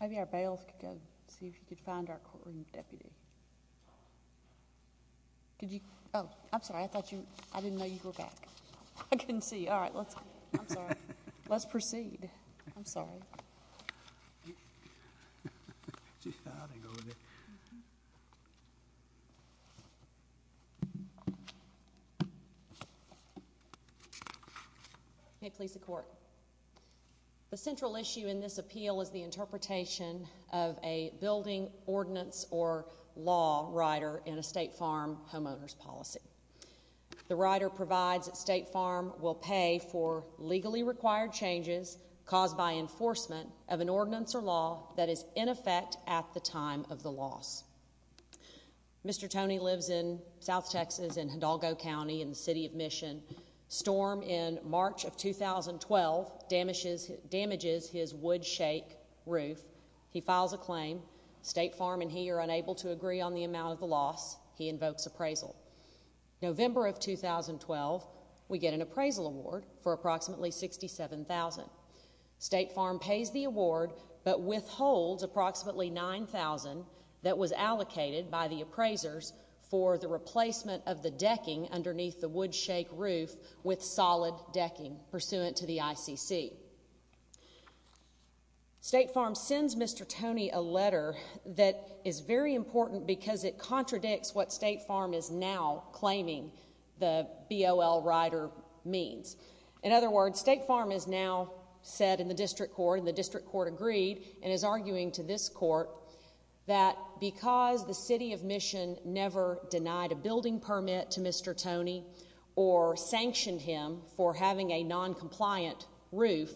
Maybe our bailiff could go and see if he could find our courtroom deputy. Oh, I'm sorry, I thought you, I didn't know you grew back. I couldn't see you. All right, let's, I'm sorry. Let's proceed. I'm sorry. I didn't go in there. Okay, please, the court. The central issue in this appeal is the interpretation of a building ordinance or law rider in a State Farm homeowner's policy. The rider provides that State Farm will pay for legally required changes caused by enforcement of an ordinance or law that is in effect at the time of the loss. Mr. Toney lives in south Texas in Hidalgo County in the city of Mission. Storm in March of 2012 damages his wood shake roof. He files a claim. State Farm and he are unable to agree on the amount of the loss. He invokes appraisal. November of 2012, we get an appraisal award for approximately 67,000. State Farm pays the award but withholds approximately 9,000 that was allocated by the appraisers for the replacement of the decking underneath the wood shake roof with solid decking pursuant to the ICC. State Farm sends Mr. Toney a letter that is very important because it contradicts what State Farm is now claiming the BOL rider means. In other words, State Farm is now said in the district court and the district court agreed and is arguing to this court that because the city of Mission never denied a building permit to Mr. Toney or sanctioned him for having a noncompliant roof,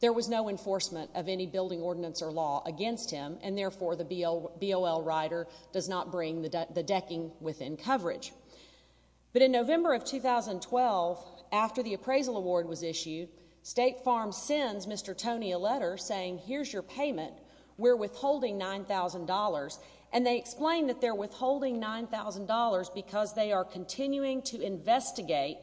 there was no enforcement of any building ordinance or law against him and therefore the BOL rider does not bring the decking within coverage. But in November of 2012, after the appraisal award was issued, State Farm sends Mr. Toney a letter saying here's your payment. We're withholding $9,000 and they explain that they're withholding $9,000 because they are continuing to investigate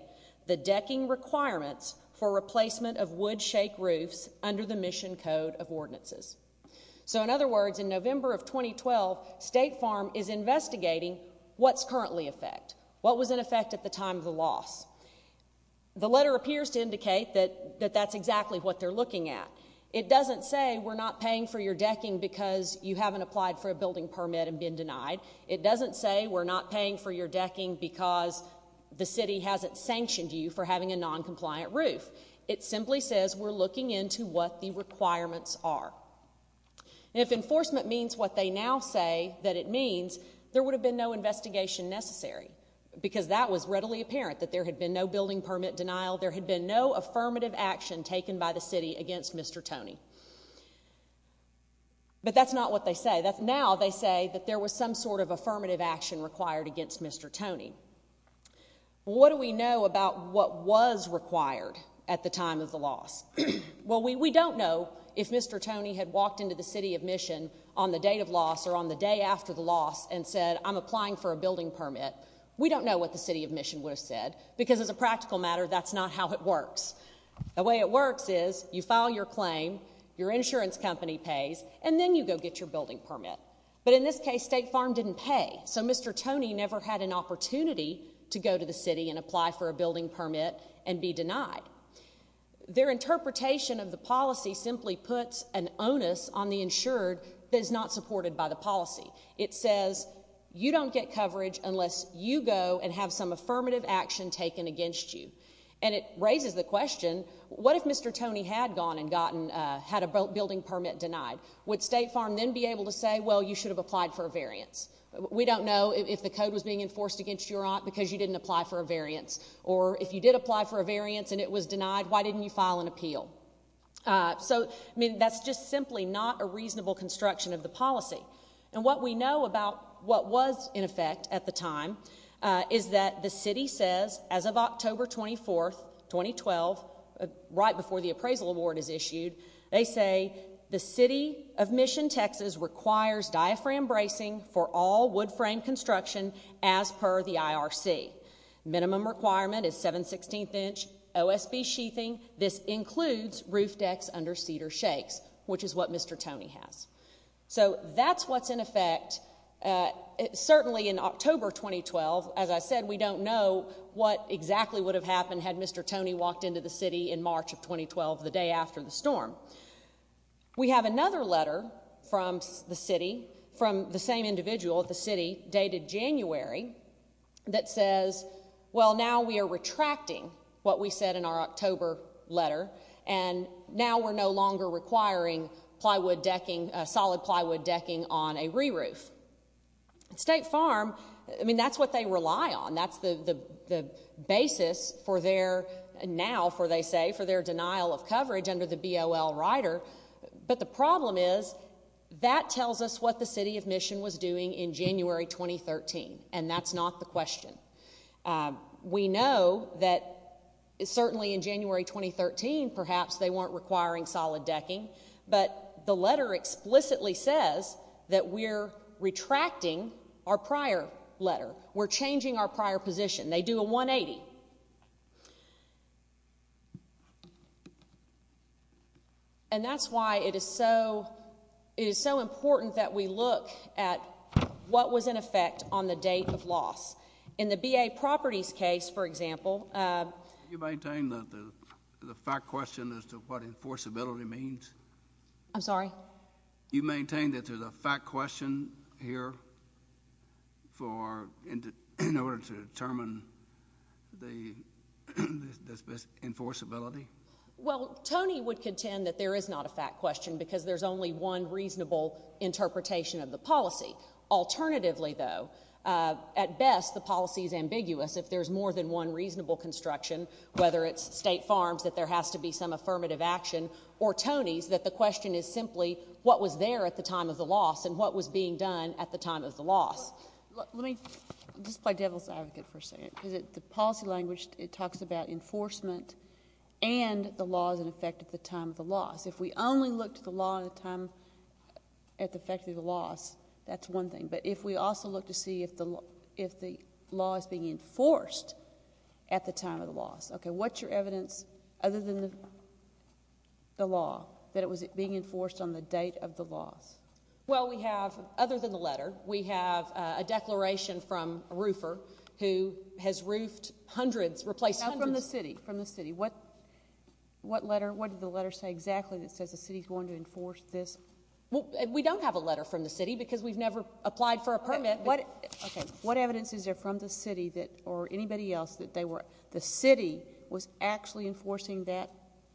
the decking requirements for replacement of wood shake roofs under the Mission Code of Ordinances. So in other words, in November of 2012, State Farm is investigating what's currently in effect, what was in effect at the time of the loss. The letter appears to indicate that that's exactly what they're looking at. It doesn't say we're not paying for your decking because you haven't applied for a building permit and been denied. It doesn't say we're not paying for your decking because the city hasn't sanctioned you for having a noncompliant roof. It simply says we're looking into what the requirements are. And if enforcement means what they now say that it means, there would have been no investigation necessary because that was readily apparent, that there had been no building permit denial, there had been no affirmative action taken by the city against Mr. Toney. But that's not what they say. Now they say that there was some sort of affirmative action required against Mr. Toney. What do we know about what was required at the time of the loss? Well, we don't know if Mr. Toney had walked into the city of Mission on the date of loss or on the day after the loss and said, I'm applying for a building permit. We don't know what the city of Mission would have said because, as a practical matter, that's not how it works. The way it works is you file your claim, your insurance company pays, and then you go get your building permit. But in this case, State Farm didn't pay. So Mr. Toney never had an opportunity to go to the city and apply for a building permit and be denied. Their interpretation of the policy simply puts an onus on the insured that is not supported by the policy. It says you don't get coverage unless you go and have some affirmative action taken against you. And it raises the question, what if Mr. Toney had gone and had a building permit denied? Would State Farm then be able to say, well, you should have applied for a variance? We don't know if the code was being enforced against you or not because you didn't apply for a variance. Or if you did apply for a variance and it was denied, why didn't you file an appeal? So, I mean, that's just simply not a reasonable construction of the policy. And what we know about what was in effect at the time is that the city says, as of October 24, 2012, right before the appraisal award is issued, they say the city of Mission, Texas requires diaphragm bracing for all wood frame construction as per the IRC. Minimum requirement is 7 16th inch OSB sheathing. This includes roof decks under cedar shakes, which is what Mr. Toney has. So that's what's in effect. Certainly in October 2012, as I said, we don't know what exactly would have happened had Mr. Toney walked into the city in March of 2012, the day after the storm. We have another letter from the city from the same individual at the city dated January that says, well, now we are retracting what we said in our October letter. And now we're no longer requiring plywood decking, solid plywood decking on a re-roof. State Farm, I mean, that's what they rely on. That's the basis for their now, for they say, for their denial of coverage under the BOL rider. But the problem is that tells us what the city of Mission was doing in January 2013. And that's not the question. We know that certainly in January 2013, perhaps they weren't requiring solid decking. But the letter explicitly says that we're retracting our prior letter. We're changing our prior position. They do a 180. And that's why it is so, it is so important that we look at what was in effect on the date of loss. In the BA Properties case, for example. Can you maintain the fact question as to what enforceability means? I'm sorry? You maintain that there's a fact question here for, in order to determine the enforceability? Well, Tony would contend that there is not a fact question because there's only one reasonable interpretation of the policy. Alternatively, though, at best, the policy is ambiguous. If there's more than one reasonable construction, whether it's State Farms, that there has to be some affirmative action, or Tony's, that the question is simply what was there at the time of the loss and what was being done at the time of the loss. Let me just play devil's advocate for a second. The policy language, it talks about enforcement and the laws in effect at the time of the loss. If we only look to the law at the time, at the effect of the loss, that's one thing. But if we also look to see if the law is being enforced at the time of the loss. Okay, what's your evidence other than the law that it was being enforced on the date of the loss? Well, we have, other than the letter, we have a declaration from a roofer who has roofed hundreds, replaced hundreds. Not from the city, from the city. What letter, what did the letter say exactly that says the city's going to enforce this? Well, we don't have a letter from the city because we've never applied for a permit. What evidence is there from the city that, or anybody else, that the city was actually enforcing that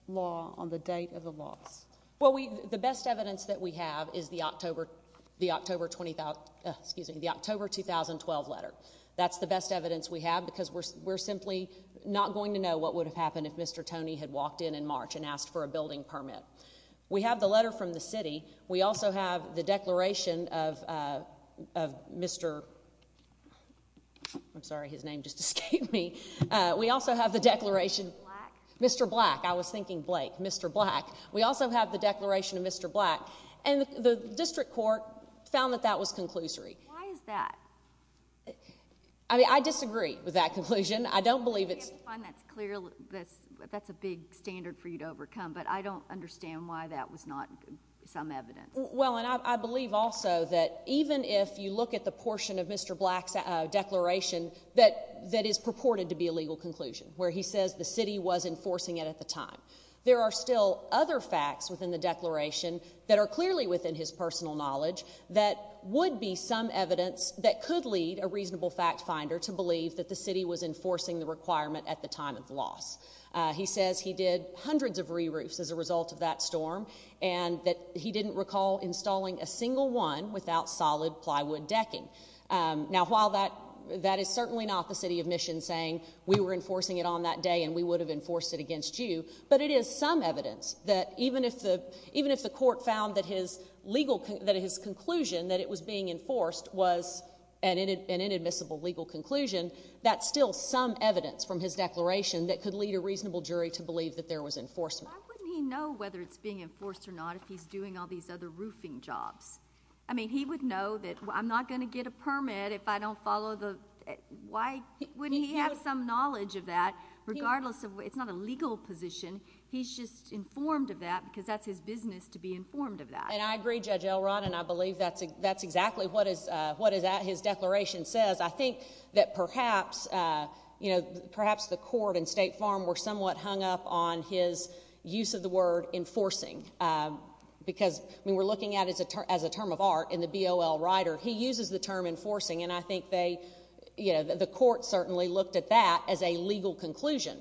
law on the date of the loss? Well, the best evidence that we have is the October 2012 letter. That's the best evidence we have because we're simply not going to know what would have happened if Mr. Tony had walked in in March and asked for a building permit. We have the letter from the city. We also have the declaration of Mr. I'm sorry, his name just escaped me. We also have the declaration. Black? Mr. Black. I was thinking Blake. Mr. Black. We also have the declaration of Mr. Black. And the district court found that that was conclusory. Why is that? I mean, I disagree with that conclusion. I don't believe it's. I find that's clearly, that's a big standard for you to overcome, but I don't understand why that was not some evidence. Well, and I believe also that even if you look at the portion of Mr. Black's declaration that is purported to be a legal conclusion, where he says the city was enforcing it at the time, there are still other facts within the declaration that are clearly within his personal knowledge that would be some evidence that could lead a reasonable fact finder to believe that the city was enforcing the requirement at the time of the loss. He says he did hundreds of re-roofs as a result of that storm and that he didn't recall installing a single one without solid plywood decking. Now, while that is certainly not the city of mission saying we were enforcing it on that day and we would have enforced it against you, but it is some evidence that even if the court found that his legal, that his conclusion that it was being enforced was an inadmissible legal conclusion, that's still some evidence from his declaration that could lead a reasonable jury to believe that there was enforcement. Why wouldn't he know whether it's being enforced or not if he's doing all these other roofing jobs? I mean, he would know that I'm not going to get a permit if I don't follow the— why wouldn't he have some knowledge of that regardless of—it's not a legal position. He's just informed of that because that's his business to be informed of that. And I agree, Judge Elrond, and I believe that's exactly what his declaration says. I think that perhaps the court and State Farm were somewhat hung up on his use of the word enforcing because, I mean, we're looking at it as a term of art in the BOL rider. He uses the term enforcing, and I think the court certainly looked at that as a legal conclusion.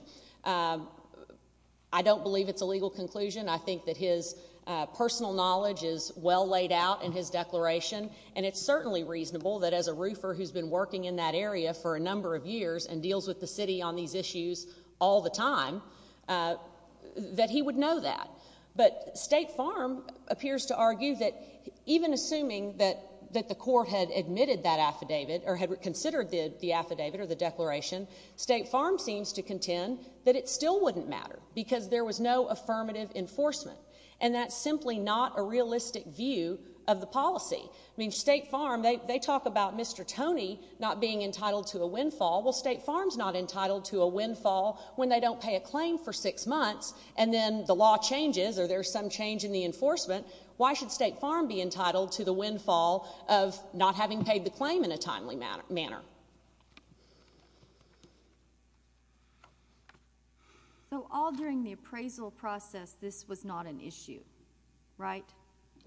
I don't believe it's a legal conclusion. I think that his personal knowledge is well laid out in his declaration, and it's certainly reasonable that as a roofer who's been working in that area for a number of years and deals with the city on these issues all the time, that he would know that. But State Farm appears to argue that even assuming that the court had admitted that affidavit or had considered the affidavit or the declaration, State Farm seems to contend that it still wouldn't matter because there was no affirmative enforcement, and that's simply not a realistic view of the policy. I mean, State Farm, they talk about Mr. Tony not being entitled to a windfall. Well, State Farm's not entitled to a windfall when they don't pay a claim for six months, and then the law changes or there's some change in the enforcement. Why should State Farm be entitled to the windfall of not having paid the claim in a timely manner? So all during the appraisal process, this was not an issue, right?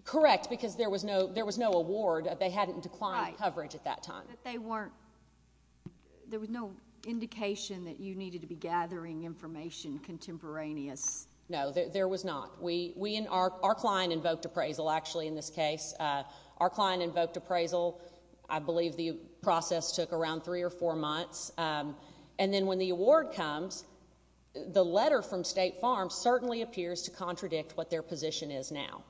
Correct, because there was no award. They hadn't declined coverage at that time. Right, but there was no indication that you needed to be gathering information contemporaneous. No, there was not. Our client invoked appraisal, actually, in this case. Our client invoked appraisal. I believe the process took around three or four months, and then when the award comes, the letter from State Farm certainly appears to contradict what their position is now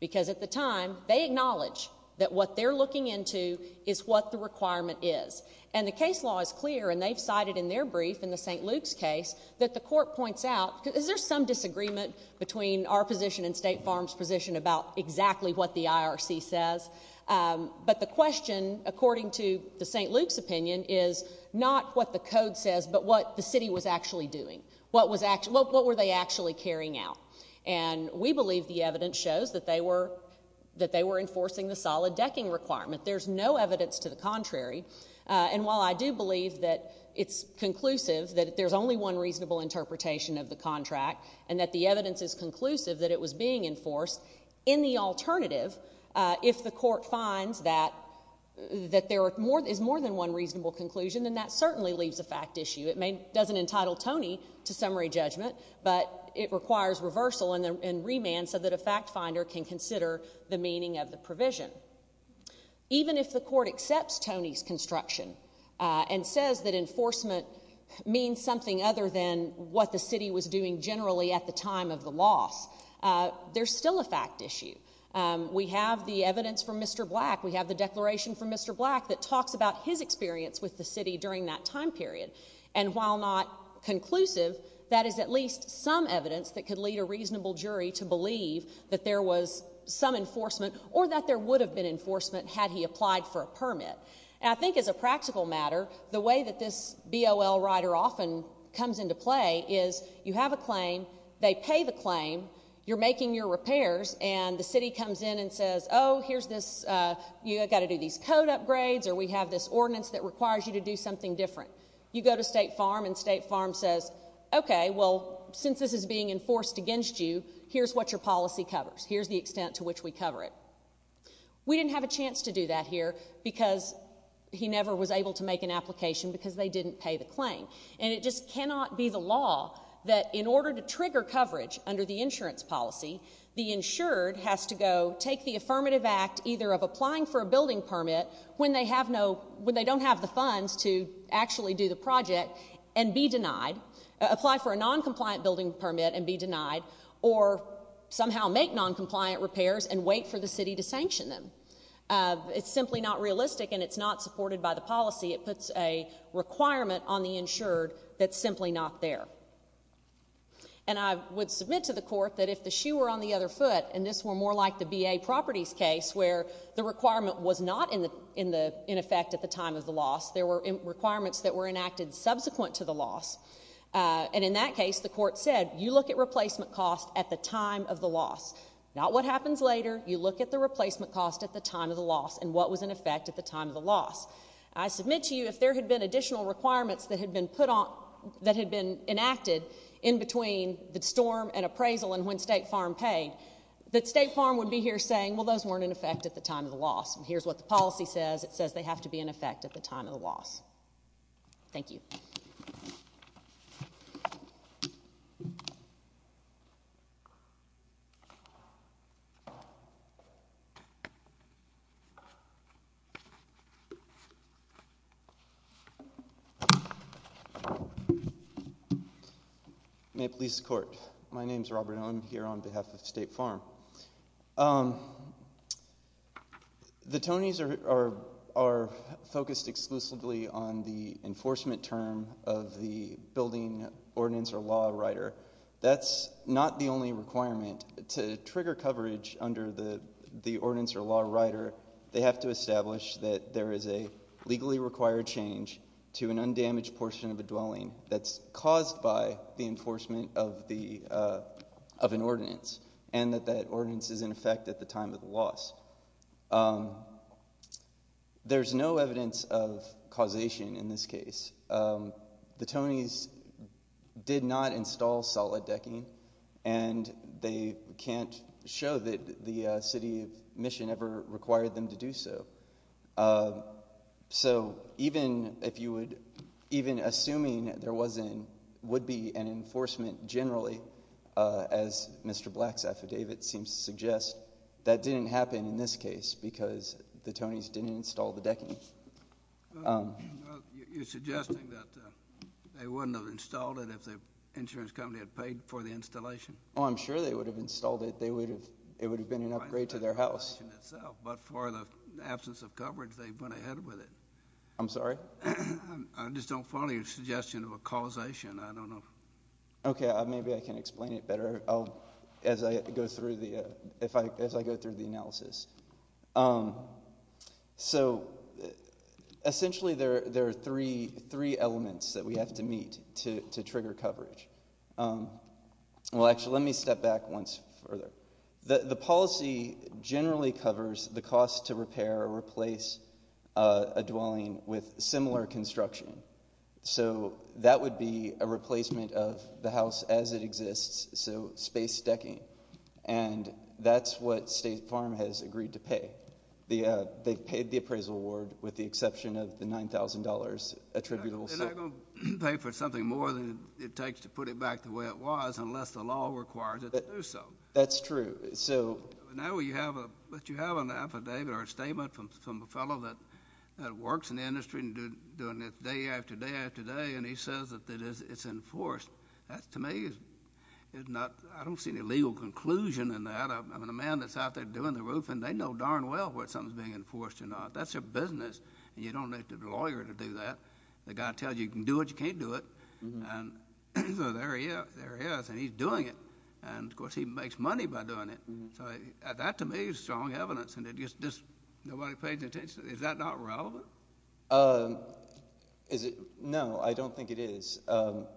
because at the time, they acknowledge that what they're looking into is what the requirement is, and the case law is clear, and they've cited in their brief in the St. Luke's case that the court points out, is there some disagreement between our position and State Farm's position about exactly what the IRC says? But the question, according to the St. Luke's opinion, is not what the code says, but what the city was actually doing. What were they actually carrying out? And we believe the evidence shows that they were enforcing the solid decking requirement. There's no evidence to the contrary. And while I do believe that it's conclusive that there's only one reasonable interpretation of the contract and that the evidence is conclusive that it was being enforced, in the alternative, if the court finds that there is more than one reasonable conclusion, then that certainly leaves a fact issue. It doesn't entitle Tony to summary judgment, but it requires reversal and remand so that a fact finder can consider the meaning of the provision. Even if the court accepts Tony's construction and says that enforcement means something other than what the city was doing generally at the time of the loss, there's still a fact issue. We have the evidence from Mr. Black. We have the declaration from Mr. Black that talks about his experience with the city during that time period. And while not conclusive, that is at least some evidence that could lead a reasonable jury to believe that there was some enforcement or that there would have been enforcement had he applied for a permit. And I think as a practical matter, the way that this BOL rider often comes into play is you have a claim, they pay the claim, you're making your repairs, and the city comes in and says, oh, here's this, you've got to do these code upgrades, or we have this ordinance that requires you to do something different. You go to State Farm and State Farm says, okay, well, since this is being enforced against you, here's what your policy covers, here's the extent to which we cover it. We didn't have a chance to do that here because he never was able to make an application because they didn't pay the claim. And it just cannot be the law that in order to trigger coverage under the insurance policy, the insured has to go take the affirmative act either of applying for a building permit when they don't have the funds to actually do the project and be denied, apply for a noncompliant building permit and be denied, or somehow make noncompliant repairs and wait for the city to sanction them. It's simply not realistic and it's not supported by the policy. It puts a requirement on the insured that's simply not there. And I would submit to the court that if the shoe were on the other foot, and this were more like the BA Properties case where the requirement was not in effect at the time of the loss, there were requirements that were enacted subsequent to the loss, and in that case the court said you look at replacement costs at the time of the loss, not what happens later, you look at the replacement cost at the time of the loss and what was in effect at the time of the loss. I submit to you if there had been additional requirements that had been put on, that had been enacted in between the storm and appraisal and when State Farm paid, that State Farm would be here saying, well, those weren't in effect at the time of the loss, and here's what the policy says. It says they have to be in effect at the time of the loss. Thank you. May it please the court. My name is Robert Owen. I'm here on behalf of State Farm. The Tonys are focused exclusively on the enforcement term of the building ordinance or law rider. That's not the only requirement. To trigger coverage under the ordinance or law rider, they have to establish that there is a legally required change to an undamaged portion of a dwelling that's caused by the enforcement of an ordinance and that that ordinance is in effect at the time of the loss. There's no evidence of causation in this case. The Tonys did not install solid decking, and they can't show that the City of Mission ever required them to do so. So even assuming there would be an enforcement generally, as Mr. Black's affidavit seems to suggest, that didn't happen in this case because the Tonys didn't install the decking. You're suggesting that they wouldn't have installed it if the insurance company had paid for the installation? Oh, I'm sure they would have installed it. It would have been an upgrade to their house. But for the absence of coverage, they went ahead with it. I'm sorry? I just don't follow your suggestion of a causation. I don't know. Okay. Maybe I can explain it better as I go through the analysis. So essentially there are three elements that we have to meet to trigger coverage. Well, actually, let me step back once further. The policy generally covers the cost to repair or replace a dwelling with similar construction. So that would be a replacement of the house as it exists, so space decking. And that's what State Farm has agreed to pay. They've paid the appraisal award with the exception of the $9,000 attributable sum. They're not going to pay for something more than it takes to put it back the way it was unless the law requires it to do so. That's true. But now you have an affidavit or a statement from a fellow that works in the industry and doing this day after day after day, and he says that it's enforced. To me, I don't see any legal conclusion in that. I mean, a man that's out there doing the roofing, they know darn well whether something's being enforced or not. That's their business, and you don't need a lawyer to do that. The guy tells you you can do it, you can't do it. So there he is, and he's doing it. And, of course, he makes money by doing it. So that, to me, is strong evidence, and nobody pays attention. Is that not relevant? No, I don't think it is. What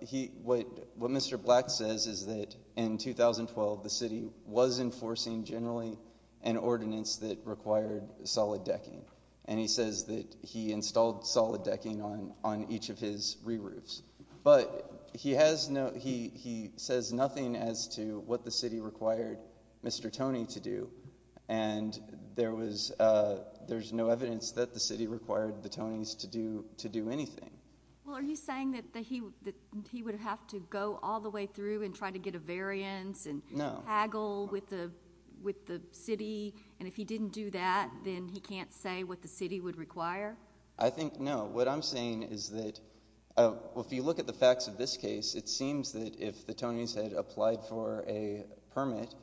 Mr. Black says is that in 2012 the city was enforcing generally an ordinance that required solid decking, and he says that he installed solid decking on each of his re-roofs. But he says nothing as to what the city required Mr. Tony to do, and there's no evidence that the city required the Tonys to do anything. Well, are you saying that he would have to go all the way through and try to get a variance and haggle with the city, and if he didn't do that, then he can't say what the city would require? I think no. What I'm saying is that if you look at the facts of this case, it seems that if the Tonys had applied for a permit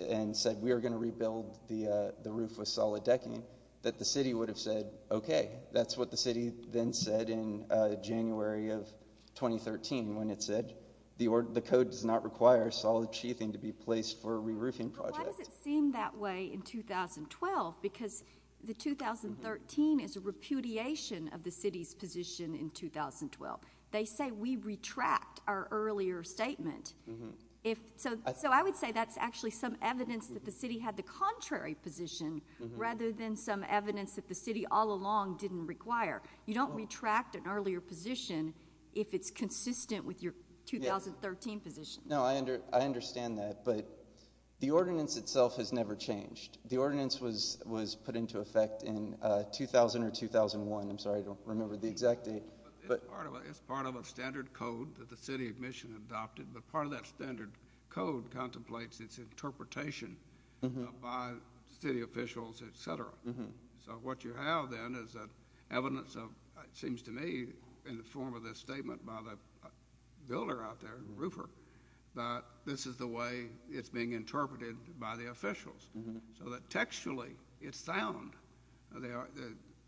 and said we are going to rebuild the roof with solid decking, that the city would have said okay. That's what the city then said in January of 2013 when it said the code does not require solid sheathing to be placed for a re-roofing project. Why does it seem that way in 2012? Because the 2013 is a repudiation of the city's position in 2012. They say we retract our earlier statement. So I would say that's actually some evidence that the city had the contrary position rather than some evidence that the city all along didn't require. You don't retract an earlier position if it's consistent with your 2013 position. No, I understand that, but the ordinance itself has never changed. The ordinance was put into effect in 2000 or 2001. I'm sorry, I don't remember the exact date. It's part of a standard code that the city of Michigan adopted, but part of that standard code contemplates its interpretation by city officials, et cetera. So what you have then is evidence of, it seems to me, in the form of this statement by the builder out there, Roofer, that this is the way it's being interpreted by the officials, so that textually it's sound, the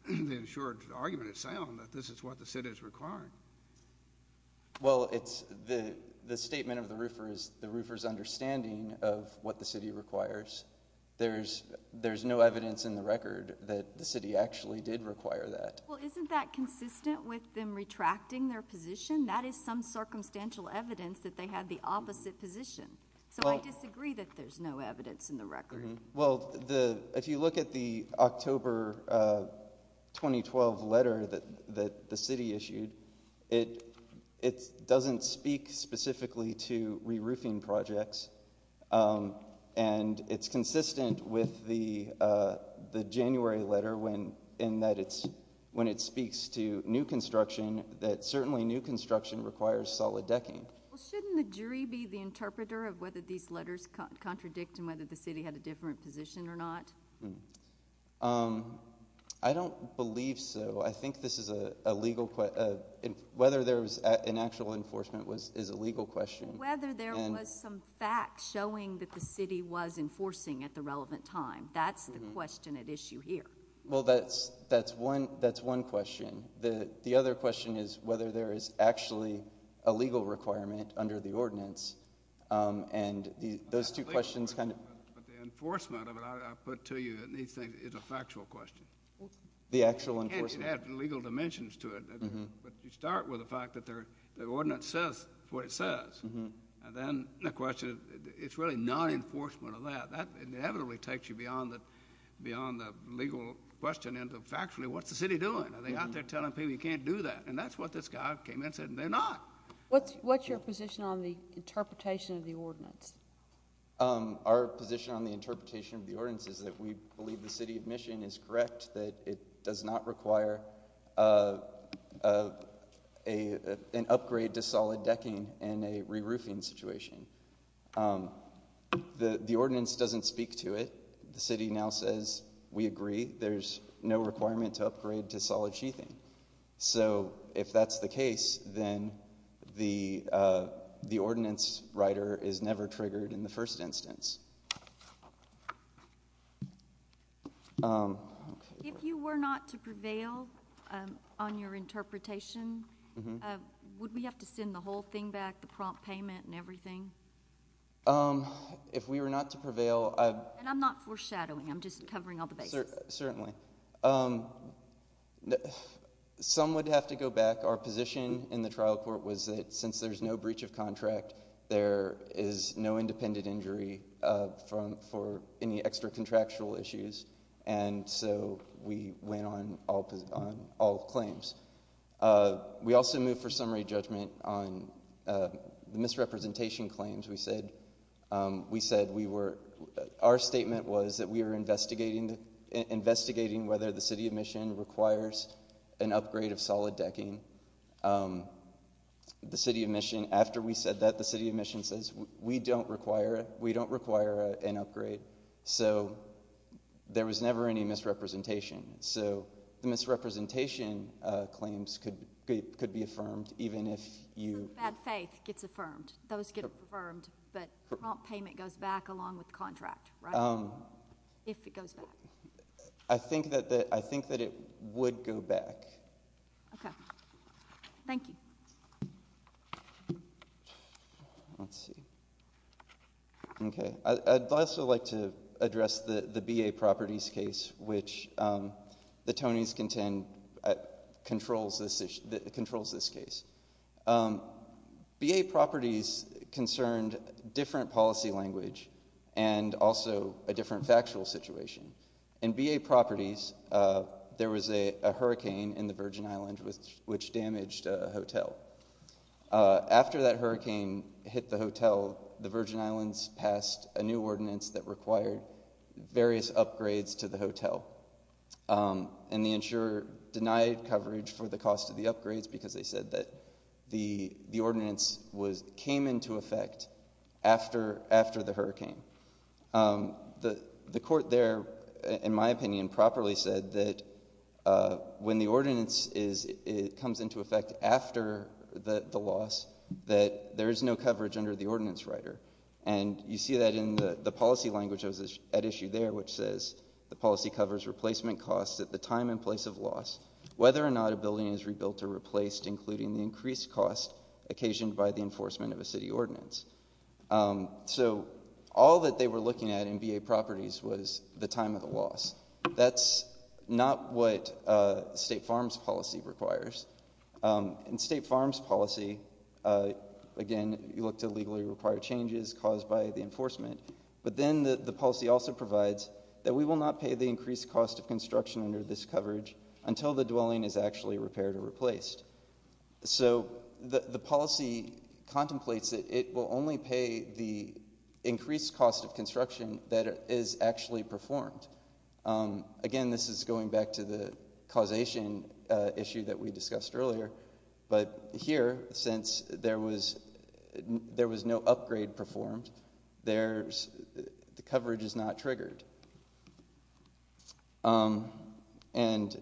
ensured argument is sound, that this is what the city is requiring. Well, the statement of the Roofer is the Roofer's understanding of what the city requires. There's no evidence in the record that the city actually did require that. Well, isn't that consistent with them retracting their position? That is some circumstantial evidence that they had the opposite position, so I disagree that there's no evidence in the record. Well, if you look at the October 2012 letter that the city issued, it doesn't speak specifically to re-roofing projects, and it's consistent with the January letter in that when it speaks to new construction, that certainly new construction requires solid decking. Well, shouldn't the jury be the interpreter of whether these letters contradict and whether the city had a different position or not? I don't believe so. I think whether there was an actual enforcement is a legal question. Whether there was some fact showing that the city was enforcing at the relevant time, that's the question at issue here. Well, that's one question. The other question is whether there is actually a legal requirement under the ordinance, and those two questions kind of— The enforcement of it, I put to you, is a factual question. The actual enforcement. And it has legal dimensions to it. But you start with the fact that the ordinance says what it says, and then the question, it's really non-enforcement of that. That inevitably takes you beyond the legal question into, factually, what's the city doing? Are they out there telling people you can't do that? And that's what this guy came in and said, and they're not. What's your position on the interpretation of the ordinance? Our position on the interpretation of the ordinance is that we believe the city of Michigan is correct, that it does not require an upgrade to solid decking in a re-roofing situation. The ordinance doesn't speak to it. The city now says, we agree, there's no requirement to upgrade to solid sheathing. So if that's the case, then the ordinance writer is never triggered in the first instance. If you were not to prevail on your interpretation, would we have to send the whole thing back, the prompt payment and everything? If we were not to prevail— And I'm not foreshadowing, I'm just covering all the bases. Certainly. Some would have to go back. Our position in the trial court was that since there's no breach of contract, there is no independent injury for any extra contractual issues. And so we went on all claims. We also moved for summary judgment on the misrepresentation claims. Our statement was that we were investigating whether the city of Michigan requires an upgrade of solid decking. After we said that, the city of Michigan says, we don't require an upgrade. So there was never any misrepresentation. So the misrepresentation claims could be affirmed, even if you— But the prompt payment goes back along with the contract, right? If it goes back. I think that it would go back. Okay. Thank you. Let's see. Okay. I'd also like to address the BA properties case, which the Tonys contend controls this case. BA properties concerned different policy language and also a different factual situation. In BA properties, there was a hurricane in the Virgin Islands which damaged a hotel. After that hurricane hit the hotel, the Virgin Islands passed a new ordinance that required various upgrades to the hotel. And the insurer denied coverage for the cost of the upgrades because they said that the ordinance came into effect after the hurricane. The court there, in my opinion, properly said that when the ordinance comes into effect after the loss, that there is no coverage under the ordinance writer. And you see that in the policy language that was at issue there, which says the policy covers replacement costs at the time and place of loss, whether or not a building is rebuilt or replaced, including the increased cost occasioned by the enforcement of a city ordinance. So all that they were looking at in BA properties was the time of the loss. That's not what state farms policy requires. In state farms policy, again, you look to legally require changes caused by the enforcement. But then the policy also provides that we will not pay the increased cost of construction under this coverage until the dwelling is actually repaired or replaced. So the policy contemplates that it will only pay the increased cost of construction that is actually performed. Again, this is going back to the causation issue that we discussed earlier. But here, since there was no upgrade performed, the coverage is not triggered. And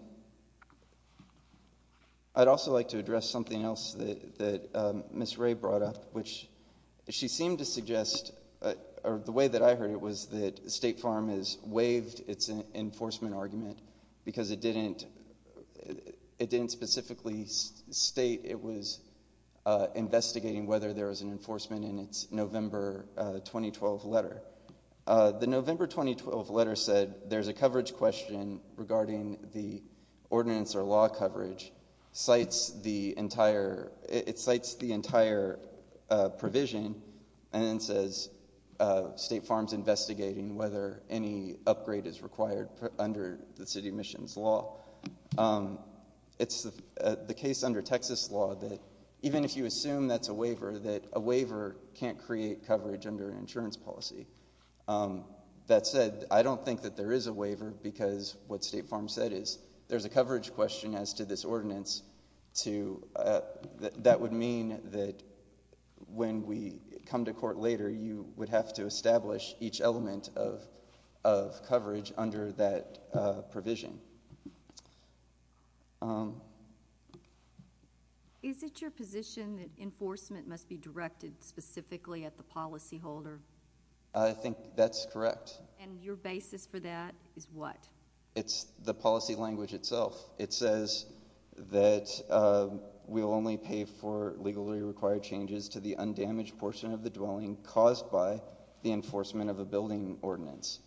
I'd also like to address something else that Ms. Ray brought up, which she seemed to suggest, or the way that I heard it, was that state farms waived its enforcement argument because it didn't specifically state it was investigating whether there was an enforcement in its November 2012 letter. The November 2012 letter said there's a coverage question regarding the ordinance or law coverage. It cites the entire provision and then says state farms investigating whether any upgrade is required under the city emissions law. It's the case under Texas law that even if you assume that's a waiver, that a waiver can't create coverage under an insurance policy. That said, I don't think that there is a waiver because what state farms said is there's a coverage question as to this ordinance. That would mean that when we come to court later, you would have to establish each element of coverage under that provision. Is it your position that enforcement must be directed specifically at the policyholder? I think that's correct. And your basis for that is what? It's the policy language itself. It says that we'll only pay for legally required changes to the undamaged portion of the dwelling caused by the enforcement of a building ordinance.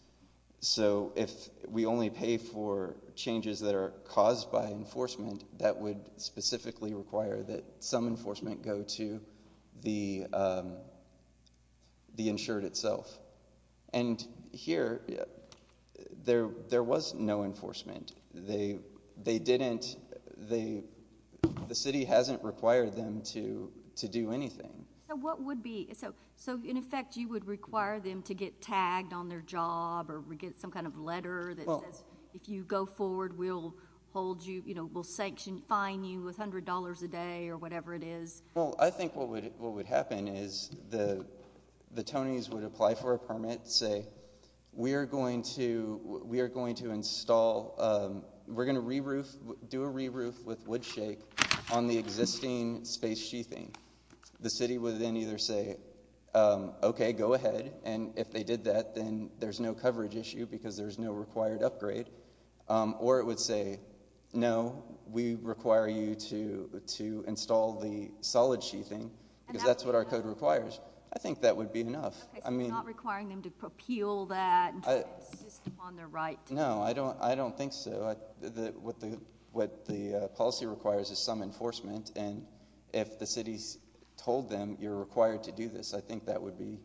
So if we only pay for changes that are caused by enforcement, that would specifically require that some enforcement go to the insured itself. And here, there was no enforcement. The city hasn't required them to do anything. So in effect, you would require them to get tagged on their job or get some kind of letter that says if you go forward, we'll fine you with $100 a day or whatever it is? Well, I think what would happen is the Tonys would apply for a permit and say, we're going to do a re-roof with wood shake on the existing space sheathing. The city would then either say, okay, go ahead. And if they did that, then there's no coverage issue because there's no required upgrade. Or it would say, no, we require you to install the solid sheathing because that's what our code requires. I think that would be enough. So you're not requiring them to propel that system on their right? No, I don't think so. What the policy requires is some enforcement. And if the city's told them you're required to do this, I think that would be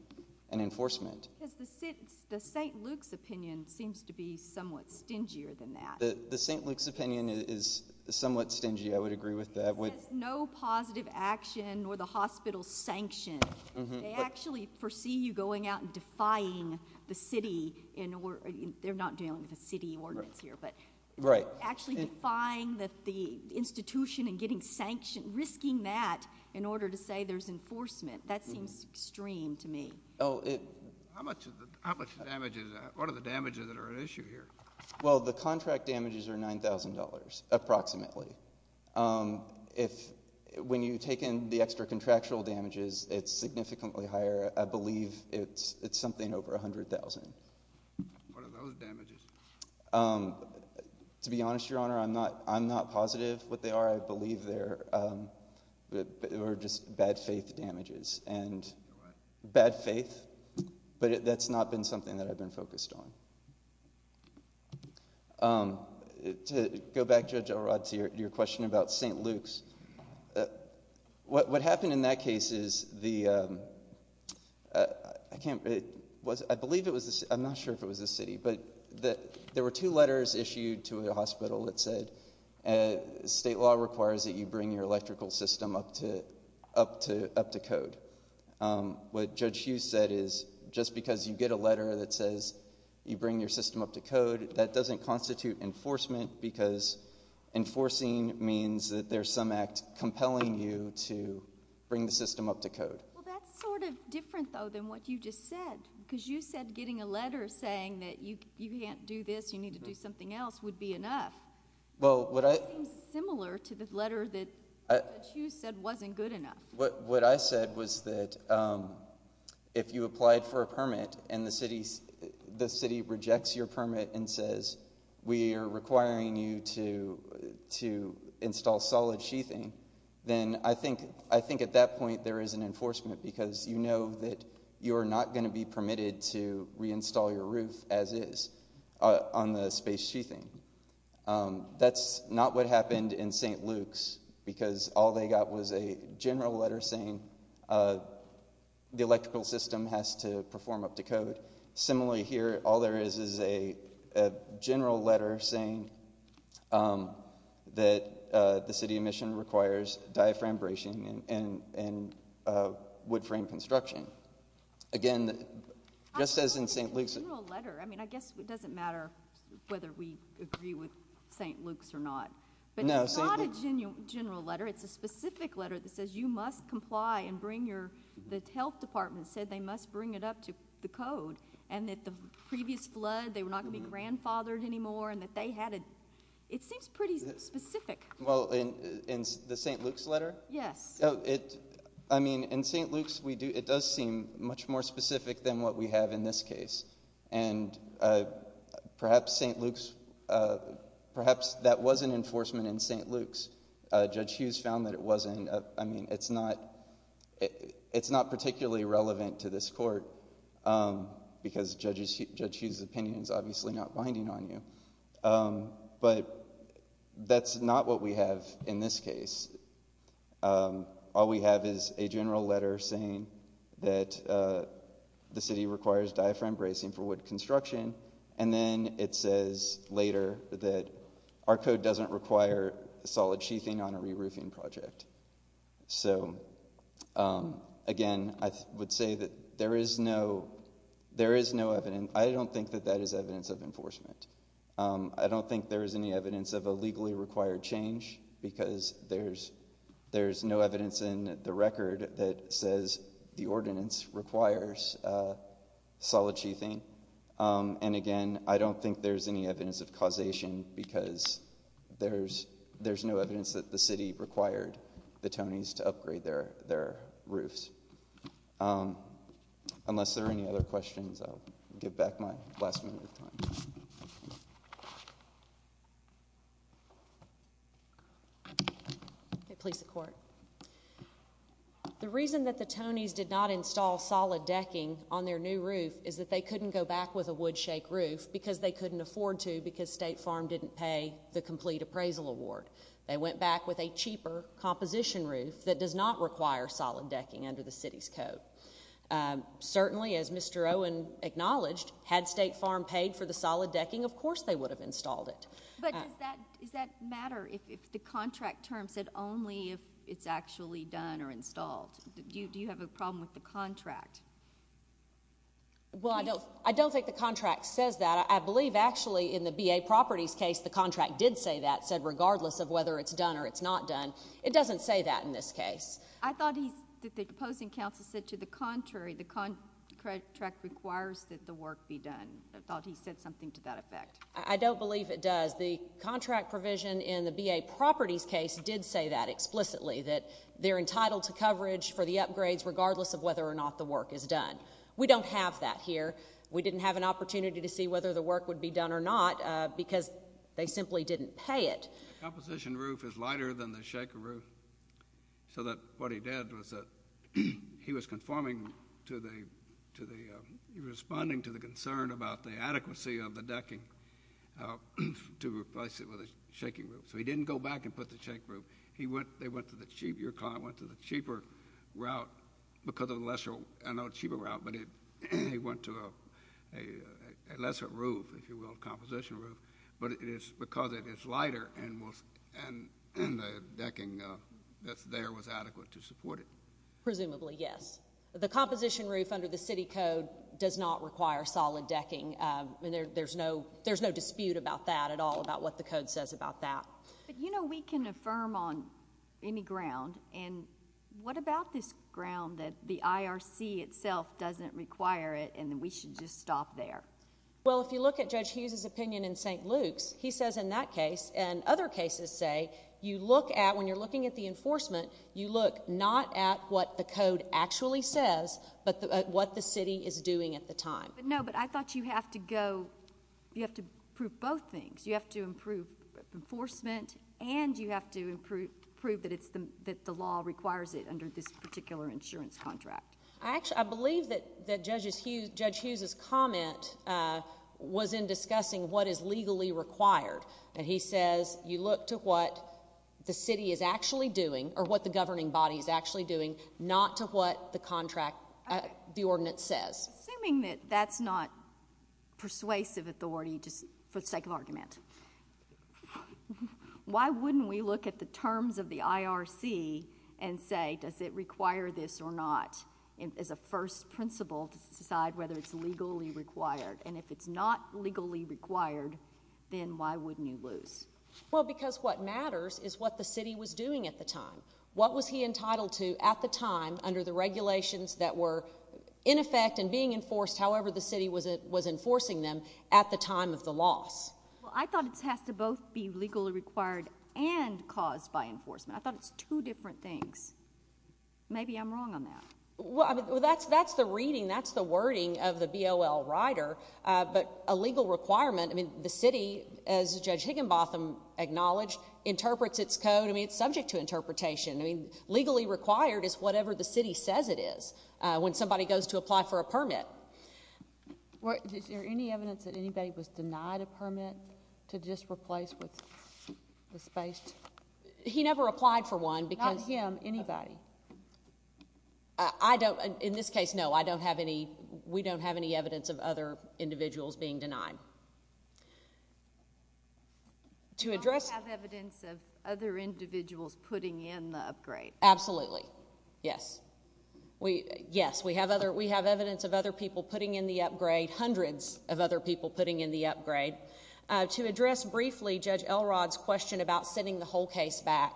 an enforcement. The St. Luke's opinion seems to be somewhat stingier than that. The St. Luke's opinion is somewhat stingy. I would agree with that. There's no positive action or the hospital's sanction. They actually foresee you going out and defying the city. They're not dealing with a city ordinance here, but actually defying the institution and getting sanctioned, risking that in order to say there's enforcement. That seems extreme to me. How much damage is that? What are the damages that are at issue here? Well, the contract damages are $9,000 approximately. When you take in the extra contractual damages, it's significantly higher. I believe it's something over $100,000. What are those damages? To be honest, Your Honor, I'm not positive what they are. I believe they're just bad faith damages. Bad faith? But that's not been something that I've been focused on. To go back, Judge Elrod, to your question about St. Luke's. What happened in that case is the – I believe it was – I'm not sure if it was the city. But there were two letters issued to a hospital that said state law requires that you bring your electrical system up to code. What Judge Hughes said is just because you get a letter that says you bring your system up to code, that doesn't constitute enforcement because enforcing means that there's some act compelling you to bring the system up to code. Well, that's sort of different, though, than what you just said because you said getting a letter saying that you can't do this, you need to do something else would be enough. It seems similar to the letter that Judge Hughes said wasn't good enough. What I said was that if you applied for a permit and the city rejects your permit and says we are requiring you to install solid sheathing, then I think at that point there is an enforcement because you know that you are not going to be permitted to reinstall your roof as is on the space sheathing. That's not what happened in St. Luke's because all they got was a general letter saying the electrical system has to perform up to code. Similarly here, all there is is a general letter saying that the city of Michigan requires diaphragm bracing and wood frame construction. I guess it doesn't matter whether we agree with St. Luke's or not, but it's not a general letter. It's a specific letter that says you must comply and the health department said they must bring it up to the code and that the previous flood, they were not going to be grandfathered anymore. It seems pretty specific. In the St. Luke's letter? Yes. In St. Luke's it does seem much more specific than what we have in this case. Perhaps that was an enforcement in St. Luke's. Judge Hughes found that it wasn't. It's not particularly relevant to this court because Judge Hughes' opinion is obviously not binding on you, but that's not what we have in this case. All we have is a general letter saying that the city requires diaphragm bracing for wood construction and then it says later that our code doesn't require solid sheathing on a re-roofing project. Again, I would say that there is no evidence. I don't think that that is evidence of enforcement. I don't think there is any evidence of a legally required change because there's no evidence in the record that says the ordinance requires solid sheathing. And again, I don't think there's any evidence of causation because there's no evidence that the city required the Tonys to upgrade their roofs. Unless there are any other questions, I'll give back my last minute of time. Okay, please support. The reason that the Tonys did not install solid decking on their new roof is that they couldn't go back with a wood shake roof because they couldn't afford to because State Farm didn't pay the complete appraisal award. They went back with a cheaper composition roof that does not require solid decking under the city's code. Certainly, as Mr. Owen acknowledged, had State Farm paid for the solid decking, of course they would have installed it. But does that matter if the contract term said only if it's actually done or installed? Do you have a problem with the contract? Well, I don't think the contract says that. I believe actually in the B.A. Properties case the contract did say that, said regardless of whether it's done or it's not done. It doesn't say that in this case. I thought the opposing counsel said to the contrary, the contract requires that the work be done. I thought he said something to that effect. I don't believe it does. The contract provision in the B.A. Properties case did say that explicitly, that they're entitled to coverage for the upgrades regardless of whether or not the work is done. We don't have that here. We didn't have an opportunity to see whether the work would be done or not because they simply didn't pay it. The composition roof is lighter than the shaker roof. So what he did was he was responding to the concern about the adequacy of the decking to replace it with a shaking roof. So he didn't go back and put the shake roof. Your client went to the cheaper route because of the lesser, I know cheaper route, but he went to a lesser roof, if you will, a composition roof. But it is because it is lighter and the decking that's there was adequate to support it. Presumably, yes. The composition roof under the city code does not require solid decking. There's no dispute about that at all, about what the code says about that. But, you know, we can affirm on any ground. And what about this ground that the IRC itself doesn't require it and we should just stop there? Well, if you look at Judge Hughes' opinion in St. Luke's, he says in that case and other cases say you look at, when you're looking at the enforcement, you look not at what the code actually says but what the city is doing at the time. No, but I thought you have to go, you have to prove both things. You have to improve enforcement and you have to prove that the law requires it under this particular insurance contract. I believe that Judge Hughes' comment was in discussing what is legally required. And he says you look to what the city is actually doing or what the governing body is actually doing, not to what the contract, the ordinance says. Assuming that that's not persuasive authority just for the sake of argument, why wouldn't we look at the terms of the IRC and say does it require this or not as a first principle to decide whether it's legally required? And if it's not legally required, then why wouldn't you lose? Well, because what matters is what the city was doing at the time. What was he entitled to at the time under the regulations that were in effect and being enforced however the city was enforcing them at the time of the loss? Well, I thought it has to both be legally required and caused by enforcement. I thought it's two different things. Maybe I'm wrong on that. Well, that's the reading, that's the wording of the BOL rider. But a legal requirement, I mean the city, as Judge Higginbotham acknowledged, interprets its code. I mean, it's subject to interpretation. I mean, legally required is whatever the city says it is when somebody goes to apply for a permit. Is there any evidence that anybody was denied a permit to just replace with the space? He never applied for one. Not him, anybody. I don't, in this case, no, I don't have any, we don't have any evidence of other individuals being denied. I don't have evidence of other individuals putting in the upgrade. Absolutely. Yes. Yes, we have evidence of other people putting in the upgrade, hundreds of other people putting in the upgrade. To address briefly Judge Elrod's question about sending the whole case back,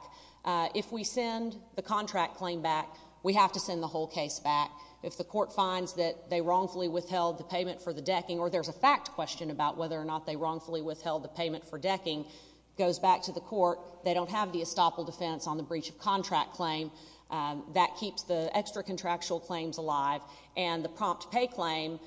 if we send the contract claim back, we have to send the whole case back. If the court finds that they wrongfully withheld the payment for the decking, or there's a fact question about whether or not they wrongfully withheld the payment for decking, goes back to the court, they don't have the estoppel defense on the breach of contract claim. That keeps the extra contractual claims alive. And the prompt pay claim,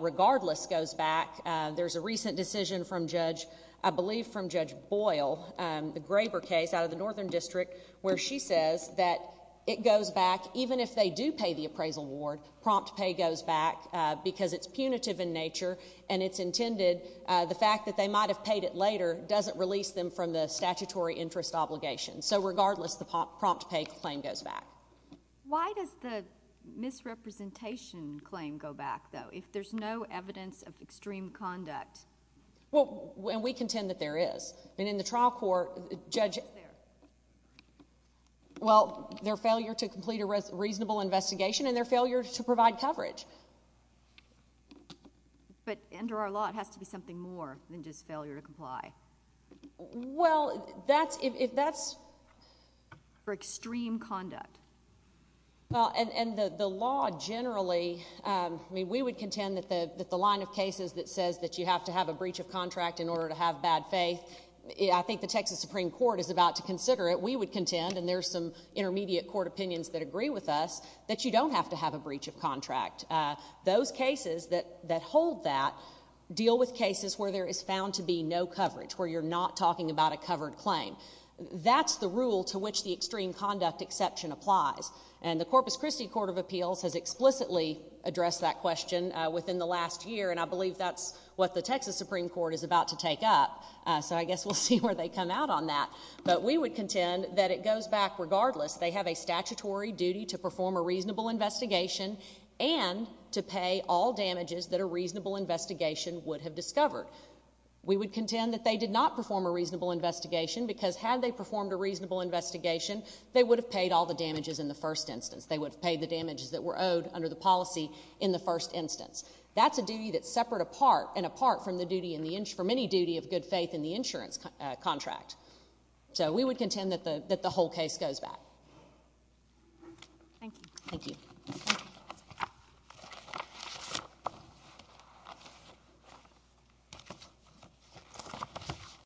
regardless, goes back. There's a recent decision from Judge, I believe from Judge Boyle, the Graber case out of the Northern District, where she says that it goes back, even if they do pay the appraisal award, prompt pay goes back because it's punitive in nature, and it's intended, the fact that they might have paid it later doesn't release them from the statutory interest obligation. So, regardless, the prompt pay claim goes back. Why does the misrepresentation claim go back, though, if there's no evidence of extreme conduct? Well, and we contend that there is. I mean, in the trial court, Judge, well, their failure to complete a reasonable investigation and their failure to provide coverage. But under our law, it has to be something more than just failure to comply. Well, that's if that's... For extreme conduct. Well, and the law generally, I mean, we would contend that the line of cases that says that you have to have a breach of contract in order to have bad faith, I think the Texas Supreme Court is about to consider it. We would contend, and there's some intermediate court opinions that agree with us, that you don't have to have a breach of contract. Those cases that hold that deal with cases where there is found to be no coverage, where you're not talking about a covered claim. That's the rule to which the extreme conduct exception applies. And the Corpus Christi Court of Appeals has explicitly addressed that question within the last year, and I believe that's what the Texas Supreme Court is about to take up. So I guess we'll see where they come out on that. But we would contend that it goes back regardless. They have a statutory duty to perform a reasonable investigation and to pay all damages that a reasonable investigation would have discovered. We would contend that they did not perform a reasonable investigation because had they performed a reasonable investigation, they would have paid all the damages in the first instance. They would have paid the damages that were owed under the policy in the first instance. That's a duty that's separate and apart from any duty of good faith in the insurance contract. So we would contend that the whole case goes back. Thank you. Thank you.